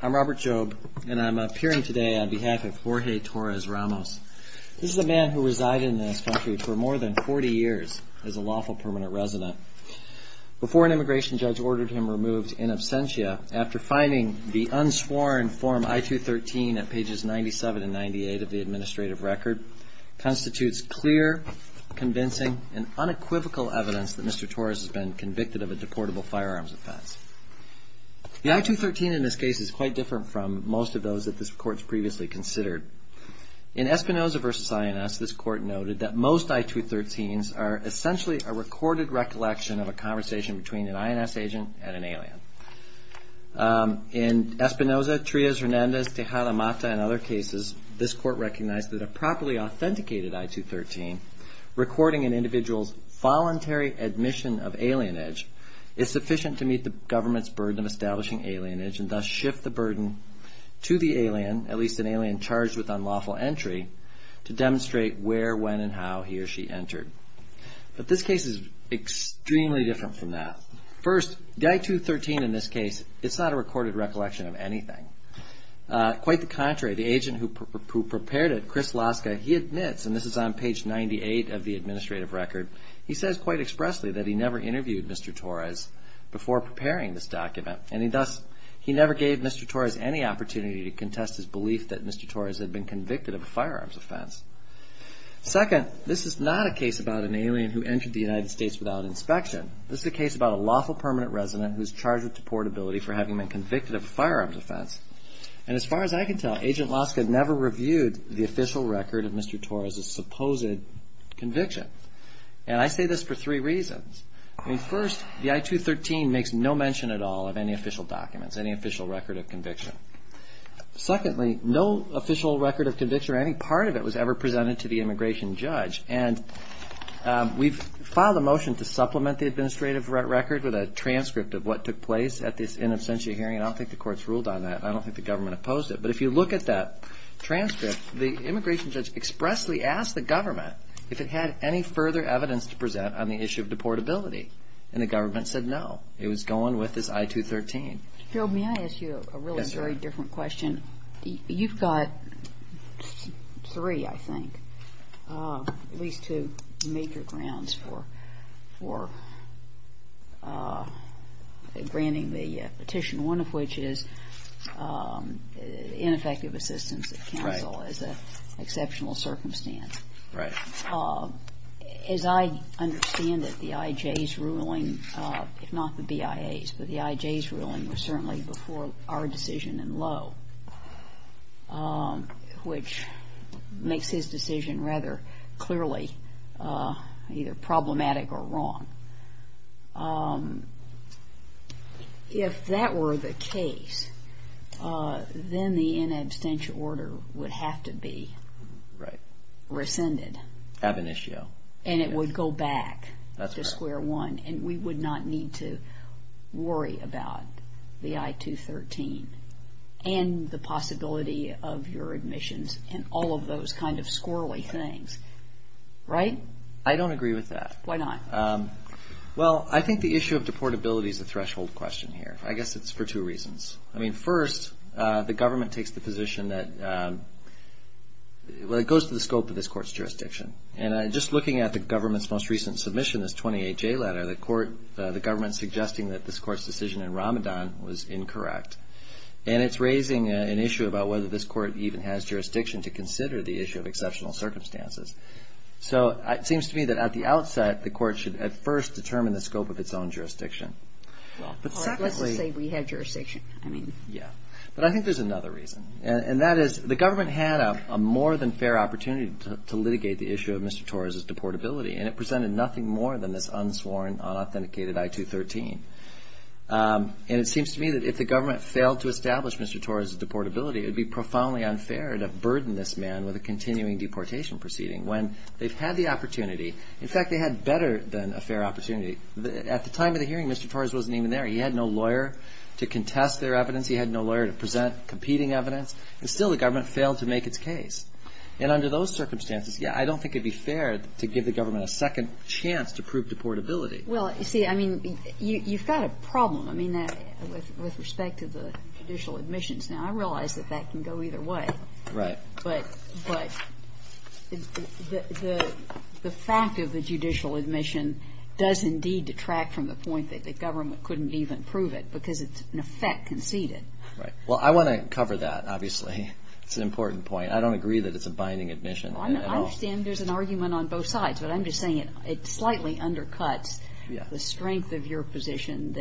I'm Robert Jobe, and I'm appearing today on behalf of Jorge Torres-Ramos. This is a man who resided in this country for more than 40 years as a lawful permanent resident. Before an immigration judge ordered him removed in absentia, after finding the unsworn Form I-213 at pages 97 and 98 of the administrative record, constitutes clear, convincing, and unequivocal evidence that Mr. Torres has been convicted of a deportable firearms offense. The I-213 in this case is quite different from most of those that this court has previously considered. In Espinoza v. INS, this court noted that most I-213s are essentially a recorded recollection of a conversation between an INS agent and an alien. In Espinoza, Trias, Hernandez, Tejada, Mata, and other cases, this court recognized that a properly authenticated I-213 recording an individual's voluntary admission of alienage is sufficient to meet the government's burden of establishing alienage and thus shift the burden to the alien, at least an alien charged with unlawful entry, to demonstrate where, when, and how he or she entered. But this case is extremely different from that. First, the I-213 in this case, it's not a recorded recollection of anything. Quite the contrary, the agent who prepared it, Chris Laska, he admits, and this is on page 98 of the administrative record, he says quite expressly that he never interviewed Mr. Torres before preparing this document and thus he never gave Mr. Torres any opportunity to contest his belief that Mr. Torres had been convicted of a firearms offense. Second, this is not a case about an alien who entered the United States without inspection. This is a case about a lawful permanent resident who is charged with deportability for having been convicted of a firearms offense. And as far as I can tell, Agent Laska never reviewed the official record of Mr. Torres' supposed conviction. And I say this for three reasons. First, the I-213 makes no mention at all of any official documents, any official record of conviction. Secondly, no official record of conviction or any part of it was ever presented to the immigration judge. And we've filed a motion to supplement the administrative record with a transcript of what took place at this in absentia hearing. I don't think the courts ruled on that. I don't think the government opposed it. But if you look at that transcript, the immigration judge expressly asked the government if it had any further evidence to present on the issue of deportability. And the government said no. It was going with this I-213. Gerald, may I ask you a really very different question? You've got three, I think, at least two major grounds for granting the petition, one of which is ineffective assistance at counsel as an exceptional circumstance. Right. As I understand it, the IJ's ruling, if not the BIA's, but the IJ's ruling was certainly before our decision in Lowe, which makes his decision rather clearly either problematic or wrong. If that were the case, then the in absentia order would have to be rescinded. Ab initio. And it would go back to square one. And we would not need to worry about the I-213 and the possibility of your admissions and all of those kind of squirrely things. Right? I don't agree with that. Why not? Well, I think the issue of deportability is a threshold question here. I guess it's for two reasons. I mean, first, the government takes the position that it goes to the scope of this court's jurisdiction. And just looking at the government's most recent submission, this 28-J letter, the government suggesting that this court's decision in Ramadan was incorrect. And it's raising an issue about whether this court even has jurisdiction to consider the issue of exceptional circumstances. So it seems to me that at the outset, the court should at first determine the scope of its own jurisdiction. Well, let's just say we had jurisdiction. Yeah. But I think there's another reason. And that is the government had a more than fair opportunity to litigate the issue of Mr. Torres' deportability. And it presented nothing more than this unsworn, unauthenticated I-213. And it seems to me that if the government failed to establish Mr. Torres' deportability, it would be profoundly unfair to burden this man with a continuing deportation proceeding when they've had the opportunity. In fact, they had better than a fair opportunity. At the time of the hearing, Mr. Torres wasn't even there. He had no lawyer to contest their evidence. He had no lawyer to present competing evidence. And still the government failed to make its case. And under those circumstances, yeah, I don't think it would be fair to give the government a second chance to prove deportability. Well, see, I mean, you've got a problem. I mean, with respect to the judicial admissions. Now, I realize that that can go either way. Right. But the fact of the judicial admission does indeed detract from the point that the government couldn't even prove it because it's in effect conceded. Right. Well, I want to cover that, obviously. It's an important point. I don't agree that it's a binding admission at all. I understand there's an argument on both sides, but I'm just saying it slightly undercuts the strength of your position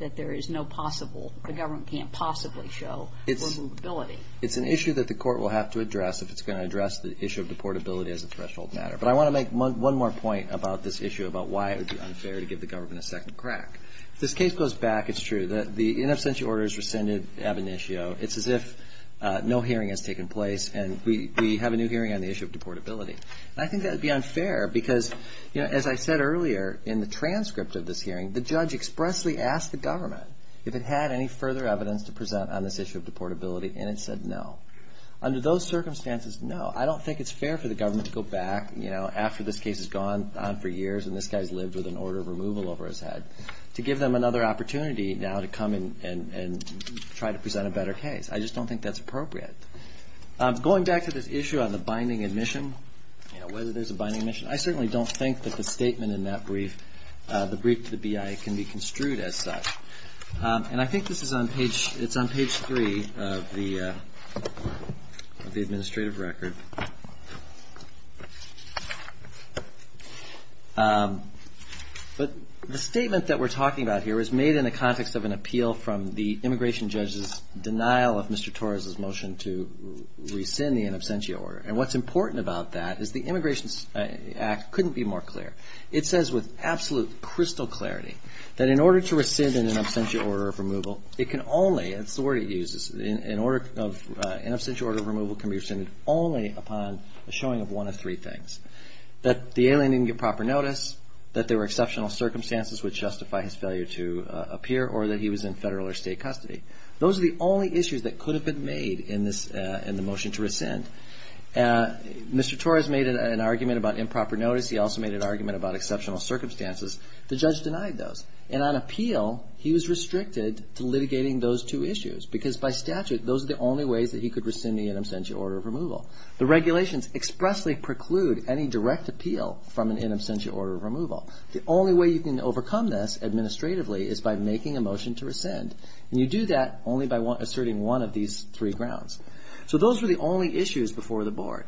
that there is no possible, the government can't possibly show removability. It's an issue that the court will have to address if it's going to address the issue of deportability as a threshold matter. But I want to make one more point about this issue, about why it would be unfair to give the government a second crack. If this case goes back, it's true that the in absentia order is rescinded ab initio. It's as if no hearing has taken place and we have a new hearing on the issue of deportability. And I think that would be unfair because, you know, as I said earlier in the transcript of this hearing, the judge expressly asked the government if it had any further evidence to present on this issue of deportability, and it said no. Under those circumstances, no. I don't think it's fair for the government to go back, you know, after this case has gone on for years and this guy's lived with an order of removal over his head, to give them another opportunity now to come in and try to present a better case. I just don't think that's appropriate. Going back to this issue on the binding admission, you know, whether there's a binding admission, I certainly don't think that the statement in that brief, the brief to the BIA, can be construed as such. And I think this is on page, it's on page three of the administrative record. But the statement that we're talking about here was made in the context of an appeal from the immigration judge's denial of Mr. Torres' motion to rescind the in absentia order. And what's important about that is the Immigration Act couldn't be more clear. It says with absolute crystal clarity that in order to rescind an in absentia order of removal, it can only, that's the word it uses, an in absentia order of removal can be rescinded only upon the showing of one of three things. That the alien didn't get proper notice, that there were exceptional circumstances which justify his failure to appear, or that he was in federal or state custody. Those are the only issues that could have been made in this, in the motion to rescind. Mr. Torres made an argument about improper notice. He also made an argument about exceptional circumstances. The judge denied those. And on appeal, he was restricted to litigating those two issues because by statute, those are the only ways that he could rescind the in absentia order of removal. The regulations expressly preclude any direct appeal from an in absentia order of removal. The only way you can overcome this administratively is by making a motion to rescind. And you do that only by asserting one of these three grounds. So those were the only issues before the board.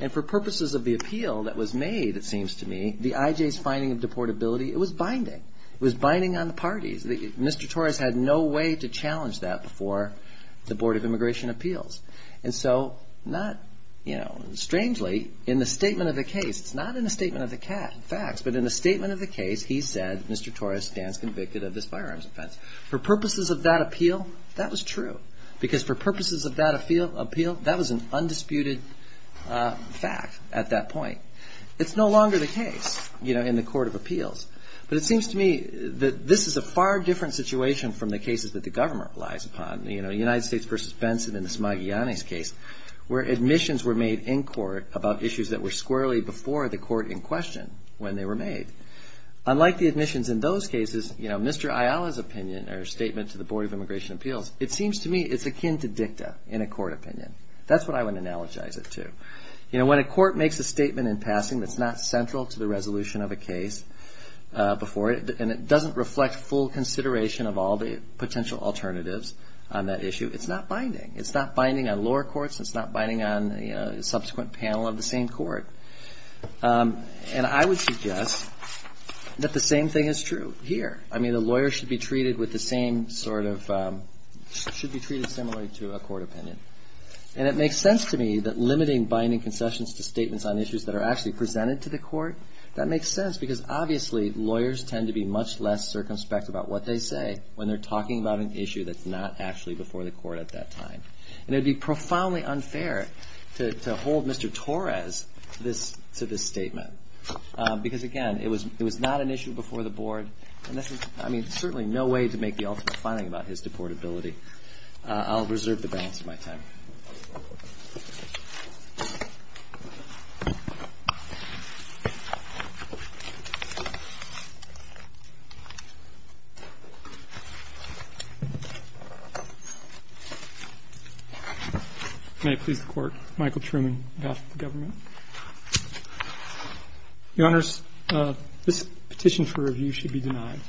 And for purposes of the appeal that was made, it seems to me, the IJ's finding of deportability, it was binding. It was binding on the parties. Mr. Torres had no way to challenge that before the Board of Immigration Appeals. And so not, you know, strangely, in the statement of the case, it's not in the statement of the facts, but in the statement of the case, he said, Mr. Torres stands convicted of this firearms offense. For purposes of that appeal, that was true. Because for purposes of that appeal, that was an undisputed fact at that point. It's no longer the case, you know, in the Court of Appeals. But it seems to me that this is a far different situation from the cases that the government relies upon. You know, United States v. Benson in the Smagiani's case where admissions were made in court about issues that were squarely before the court in question when they were made. Unlike the admissions in those cases, you know, Mr. Ayala's opinion or statement to the Board of Immigration Appeals, it seems to me it's akin to dicta in a court opinion. That's what I would analogize it to. You know, when a court makes a statement in passing that's not central to the resolution of a case before it, and it doesn't reflect full consideration of all the potential alternatives on that issue, it's not binding. It's not binding on lower courts. It's not binding on the subsequent panel of the same court. And I would suggest that the same thing is true here. I mean, the lawyer should be treated with the same sort of – should be treated similarly to a court opinion. And it makes sense to me that limiting binding concessions to statements on issues that are actually presented to the court, that makes sense because obviously lawyers tend to be much less circumspect about what they say when they're talking about an issue that's not actually before the court at that time. And it would be profoundly unfair to hold Mr. Torres to this statement because, again, it was not an issue before the board, and this is – I mean, there's certainly no way to make the ultimate finding about his deportability. I'll reserve the balance of my time. May it please the Court. Michael Truman, Government. Your Honors, this petition for review should be denied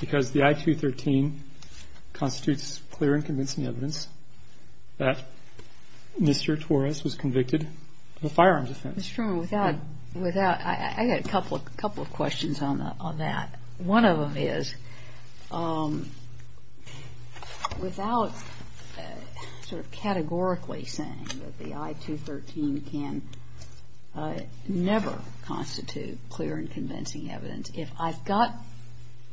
because the I-213 constitutes clear and convincing evidence that Mr. Torres was convicted of a firearms offense. Ms. Truman, without – without – I got a couple of questions on that. One of them is, without sort of categorically saying that the I-213 can never constitute clear and convincing evidence, if I've got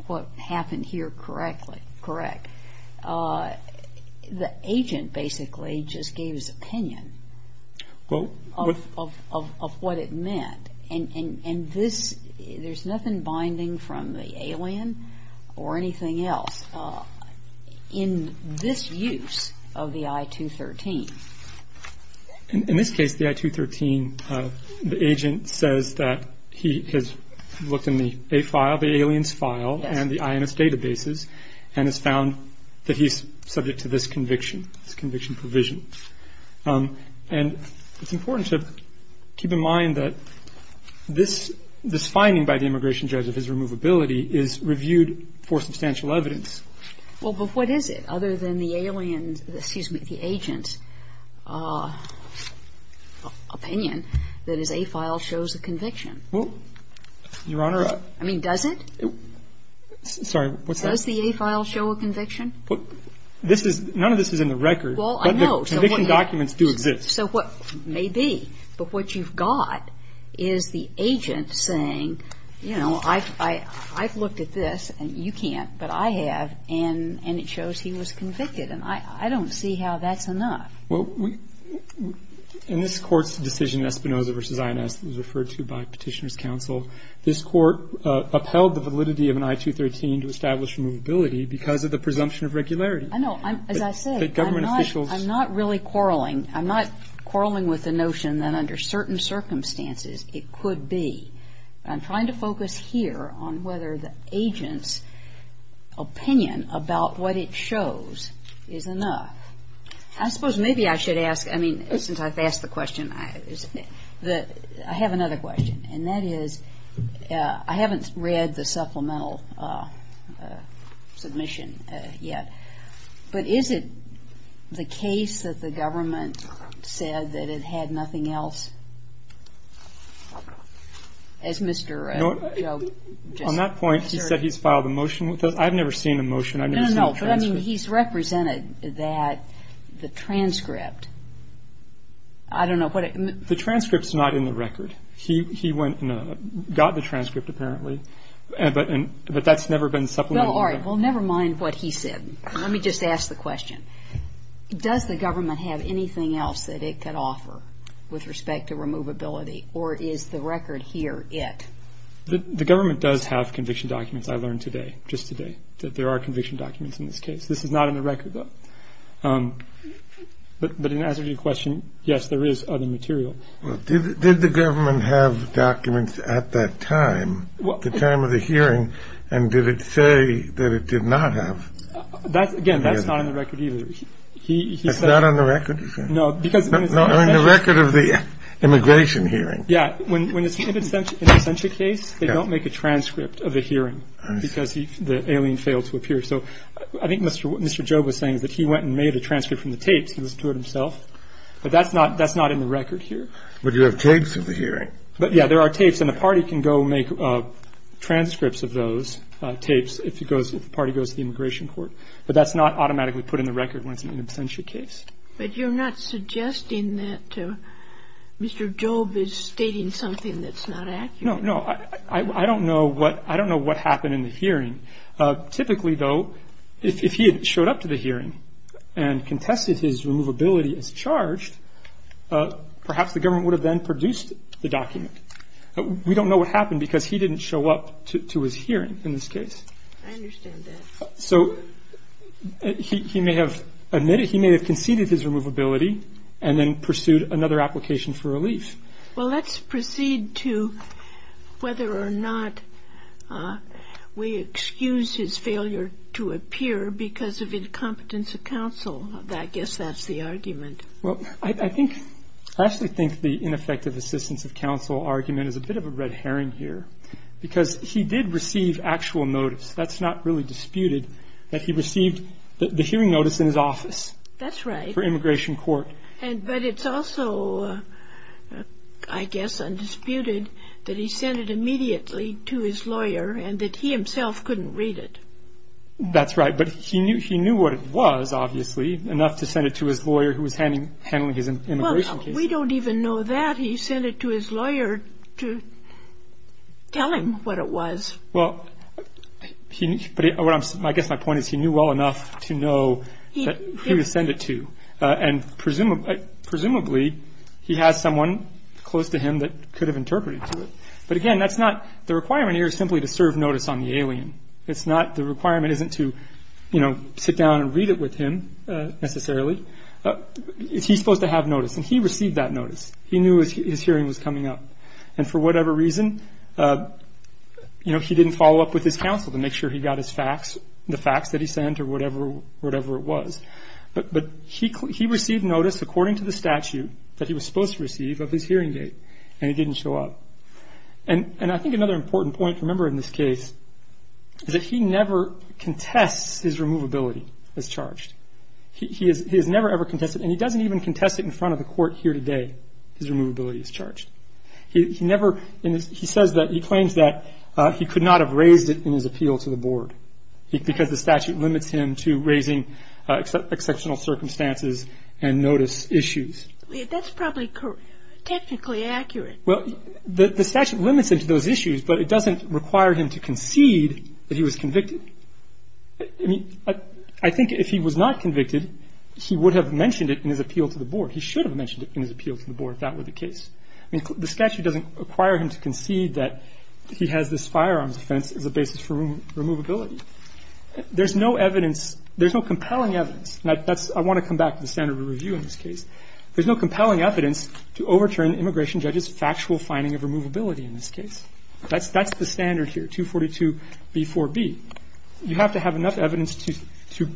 what happened here correctly – correct, the agent basically just gave his opinion of what it meant. And this – there's nothing binding from the alien or anything else in this use of the I-213. In this case, the I-213, the agent says that he has looked in the A file, the alien's file, and the INS databases and has found that he's subject to this conviction, this conviction provision. And it's important to keep in mind that this – this finding by the immigration judge of his removability is reviewed for substantial evidence. Well, but what is it, other than the alien's – excuse me, the agent's opinion that his A file shows a conviction? Well, Your Honor, I – I mean, does it? Sorry. What's that? Does the A file show a conviction? This is – none of this is in the record. Well, I know. But the conviction documents do exist. So what – maybe. But what you've got is the agent saying, you know, I've looked at this, and you can't, but I have, and it shows he was convicted. And I don't see how that's enough. Well, we – in this Court's decision, Espinoza v. INS, referred to by Petitioner's counsel, this Court upheld the validity of an I-213 to establish removability because of the presumption of regularity. I know. As I say, I'm not really quarreling. I'm not quarreling with the notion that under certain circumstances it could be. I'm trying to focus here on whether the agent's opinion about what it shows is enough. I suppose maybe I should ask – I mean, since I've asked the question, I have another question, and that is, I haven't read the supplemental submission yet. But is it the case that the government said that it had nothing else, as Mr. Joe just asserted? On that point, he said he's filed a motion. I've never seen a motion. I've never seen a transcript. No, no. But, I mean, he's represented that the transcript – I don't know what it – The transcript's not in the record. He went and got the transcript, apparently. But that's never been supplemented. Well, all right. Well, never mind what he said. Let me just ask the question. Does the government have anything else that it could offer with respect to removability, or is the record here it? The government does have conviction documents, I learned today, just today, that there are conviction documents in this case. This is not in the record, though. But in answer to your question, yes, there is other material. Well, did the government have documents at that time, the time of the hearing, and did it say that it did not have? Again, that's not in the record, either. It's not on the record? No, because – No, on the record of the immigration hearing. Yeah. When it's an absentia case, they don't make a transcript of the hearing because the alien failed to appear. But you have tapes of the hearing. But, yeah, there are tapes, and the party can go make transcripts of those tapes if it goes – if the party goes to the immigration court. But that's not automatically put in the record when it's an absentia case. But you're not suggesting that Mr. Jobe is stating something that's not accurate? No, no. I don't know what – I don't know what happened in the hearing. Typically, though, if he had showed up to the hearing and contested his removability as charged, perhaps the government would have then produced the document. We don't know what happened because he didn't show up to his hearing in this case. I understand that. So he may have admitted – he may have conceded his removability and then pursued another application for relief. Well, let's proceed to whether or not we excuse his failure to appear because of incompetence of counsel. I guess that's the argument. Well, I think – I actually think the ineffective assistance of counsel argument is a bit of a red herring here because he did receive actual notice. That's not really disputed, that he received the hearing notice in his office. That's right. For immigration court. But it's also, I guess, undisputed that he sent it immediately to his lawyer and that he himself couldn't read it. That's right. But he knew what it was, obviously, enough to send it to his lawyer who was handling his immigration case. Well, we don't even know that. He sent it to his lawyer to tell him what it was. Well, I guess my point is he knew well enough to know who to send it to. And presumably, he has someone close to him that could have interpreted to it. But, again, that's not – the requirement here is simply to serve notice on the alien. It's not – the requirement isn't to, you know, sit down and read it with him necessarily. He's supposed to have notice, and he received that notice. He knew his hearing was coming up. And for whatever reason, you know, he didn't follow up with his counsel to make sure he got his facts, the facts that he sent or whatever it was. But he received notice according to the statute that he was supposed to receive of his hearing date, and it didn't show up. And I think another important point to remember in this case is that he never contests his removability as charged. He has never, ever contested it, and he doesn't even contest it in front of the court here today, his removability as charged. He never – he says that – he claims that he could not have raised it in his appeal to the board because the statute limits him to raising exceptional circumstances and notice issues. That's probably technically accurate. Well, the statute limits him to those issues, but it doesn't require him to concede that he was convicted. I mean, I think if he was not convicted, he would have mentioned it in his appeal to the board. He should have mentioned it in his appeal to the board if that were the case. I mean, the statute doesn't require him to concede that he has this firearms offense as a basis for removability. There's no evidence – there's no compelling evidence, and that's – I want to come back to the standard of review in this case. There's no compelling evidence to overturn the immigration judge's factual finding of removability in this case. That's the standard here, 242b4b. You have to have enough evidence to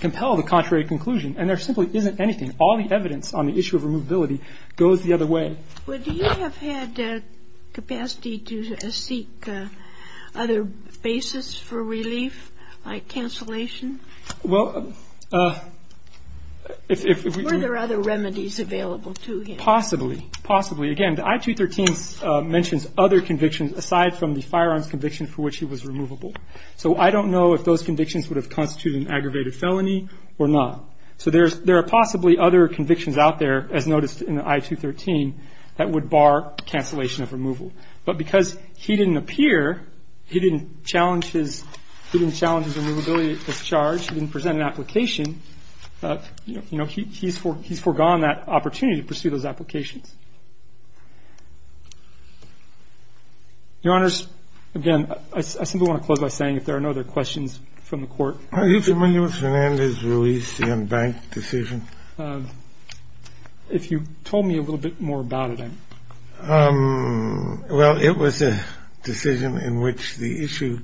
compel the contrary conclusion, and there simply isn't anything. All the evidence on the issue of removability goes the other way. Do you have had capacity to seek other basis for relief, like cancellation? Well, if we do – Were there other remedies available to him? Possibly. Possibly. Again, the I-213 mentions other convictions aside from the firearms conviction for which he was removable. So I don't know if those convictions would have constituted an aggravated felony or not. So there are possibly other convictions out there, as noticed in the I-213, that would bar cancellation of removal. But because he didn't appear, he didn't challenge his – he didn't challenge his removability discharge, he didn't present an application, you know, he's foregone that opportunity to pursue those applications. Your Honors, again, I simply want to close by saying if there are no other questions from the Court. Are you familiar with Fernandez's release, the unbanked decision? If you told me a little bit more about it, I'm – Well, it was a decision in which the issue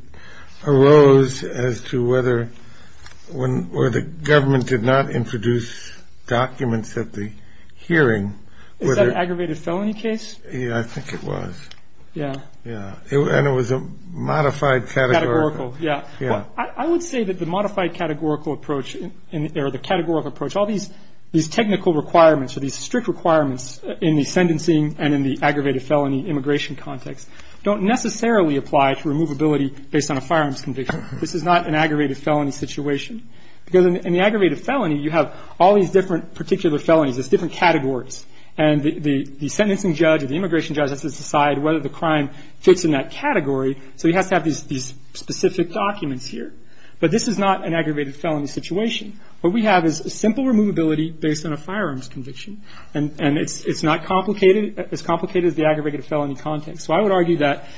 arose as to whether – where the government did not introduce documents at the hearing. Is that an aggravated felony case? Yeah, I think it was. Yeah. And it was a modified categorical – Categorical, yeah. I would say that the modified categorical approach or the categorical approach, all these technical requirements or these strict requirements in the sentencing and in the aggravated felony immigration context don't necessarily apply to removability based on a firearms conviction. This is not an aggravated felony situation. Because in the aggravated felony, you have all these different particular felonies, there's different categories. And the sentencing judge or the immigration judge has to decide whether the crime fits in that category, so he has to have these specific documents here. But this is not an aggravated felony situation. What we have is a simple removability based on a firearms conviction. And it's not complicated, as complicated as the aggravated felony context. So I would argue that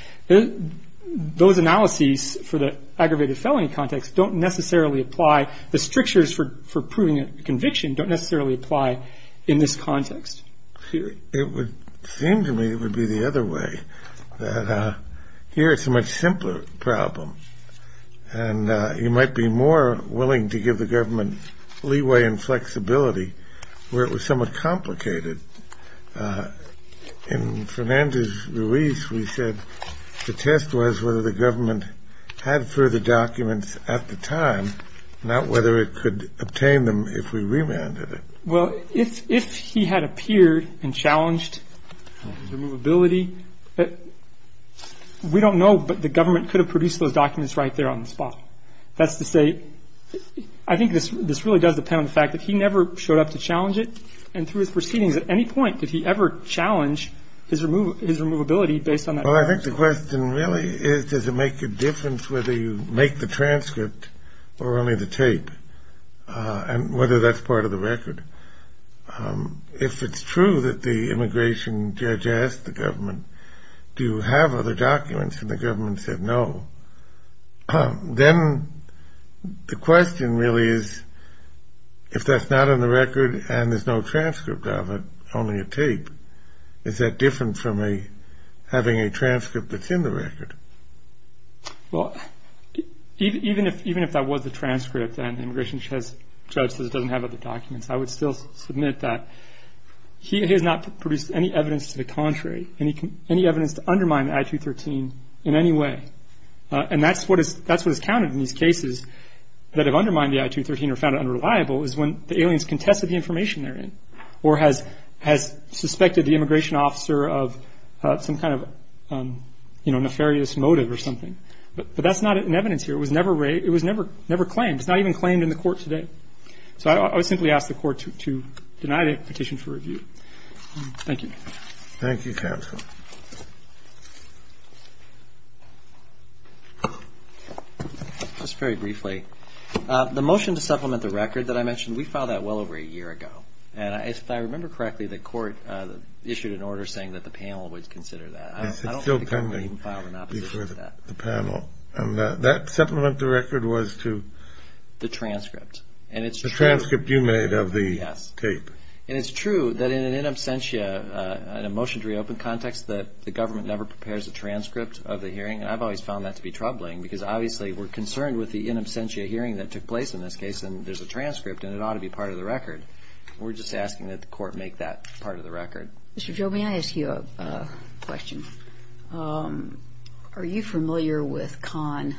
those analyses for the aggravated felony context don't necessarily apply. The strictures for proving a conviction don't necessarily apply in this context. It would seem to me it would be the other way, that here it's a much simpler problem. And you might be more willing to give the government leeway and flexibility where it was somewhat complicated. In Fernandez-Ruiz, we said the test was whether the government had further documents at the time, not whether it could obtain them if we remanded it. Well, if he had appeared and challenged removability, we don't know, but the government could have produced those documents right there on the spot. That's to say, I think this really does depend on the fact that he never showed up to challenge it. And through his proceedings, at any point did he ever challenge his removability based on that. Well, I think the question really is does it make a difference whether you make the transcript or only the tape, and whether that's part of the record. If it's true that the immigration judge asked the government, do you have other documents, and the government said no, then the question really is if that's not in the record and there's no transcript of it, only a tape, is that different from having a transcript that's in the record? Well, even if that was the transcript and the immigration judge says it doesn't have other documents, I would still submit that he has not produced any evidence to the contrary, any evidence to undermine the I-213 in any way. And that's what is counted in these cases that have undermined the I-213 or found it unreliable is when the aliens contested the information they're in, or has suspected the immigration officer of some kind of nefarious motive or something. But that's not in evidence here. It was never claimed. It's not even claimed in the court today. So I would simply ask the court to deny the petition for review. Thank you. Thank you, counsel. Just very briefly, the motion to supplement the record that I mentioned, we filed that well over a year ago. And if I remember correctly, the court issued an order saying that the panel would consider that. Yes, it's still pending. I don't think we even filed an opposition to that. And that supplement to record was to? The transcript. The transcript you made of the tape. Yes. And it's true that in an in absentia, in a motion to reopen context, that the government never prepares a transcript of the hearing. And I've always found that to be troubling, because obviously we're concerned with the in absentia hearing that took place in this case, and there's a transcript, and it ought to be part of the record. We're just asking that the court make that part of the record. Mr. Jobin, may I ask you a question? Are you familiar with Kahn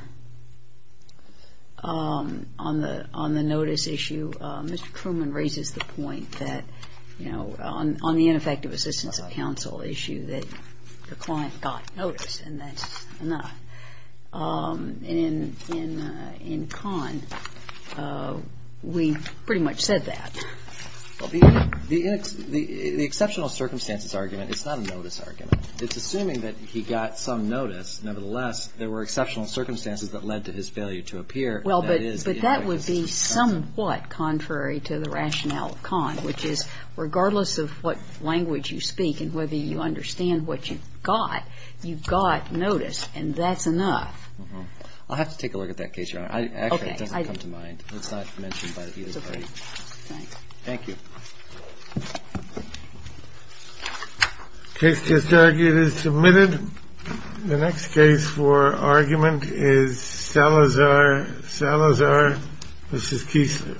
on the notice issue? Mr. Truman raises the point that, you know, on the ineffective assistance of counsel issue that the client got notice, and that's enough. And in Kahn, we pretty much said that. The exceptional circumstances argument, it's not a notice argument. It's assuming that he got some notice. Nevertheless, there were exceptional circumstances that led to his failure to appear. Well, but that would be somewhat contrary to the rationale of Kahn, which is regardless of what language you speak and whether you understand what you got, you got notice, and that's enough. I'll have to take a look at that case, Your Honor. Actually, it doesn't come to mind. It's not mentioned by either party. Thank you. Thank you. Case just argued is submitted. The next case for argument is Salazar, Salazar v. Keesler.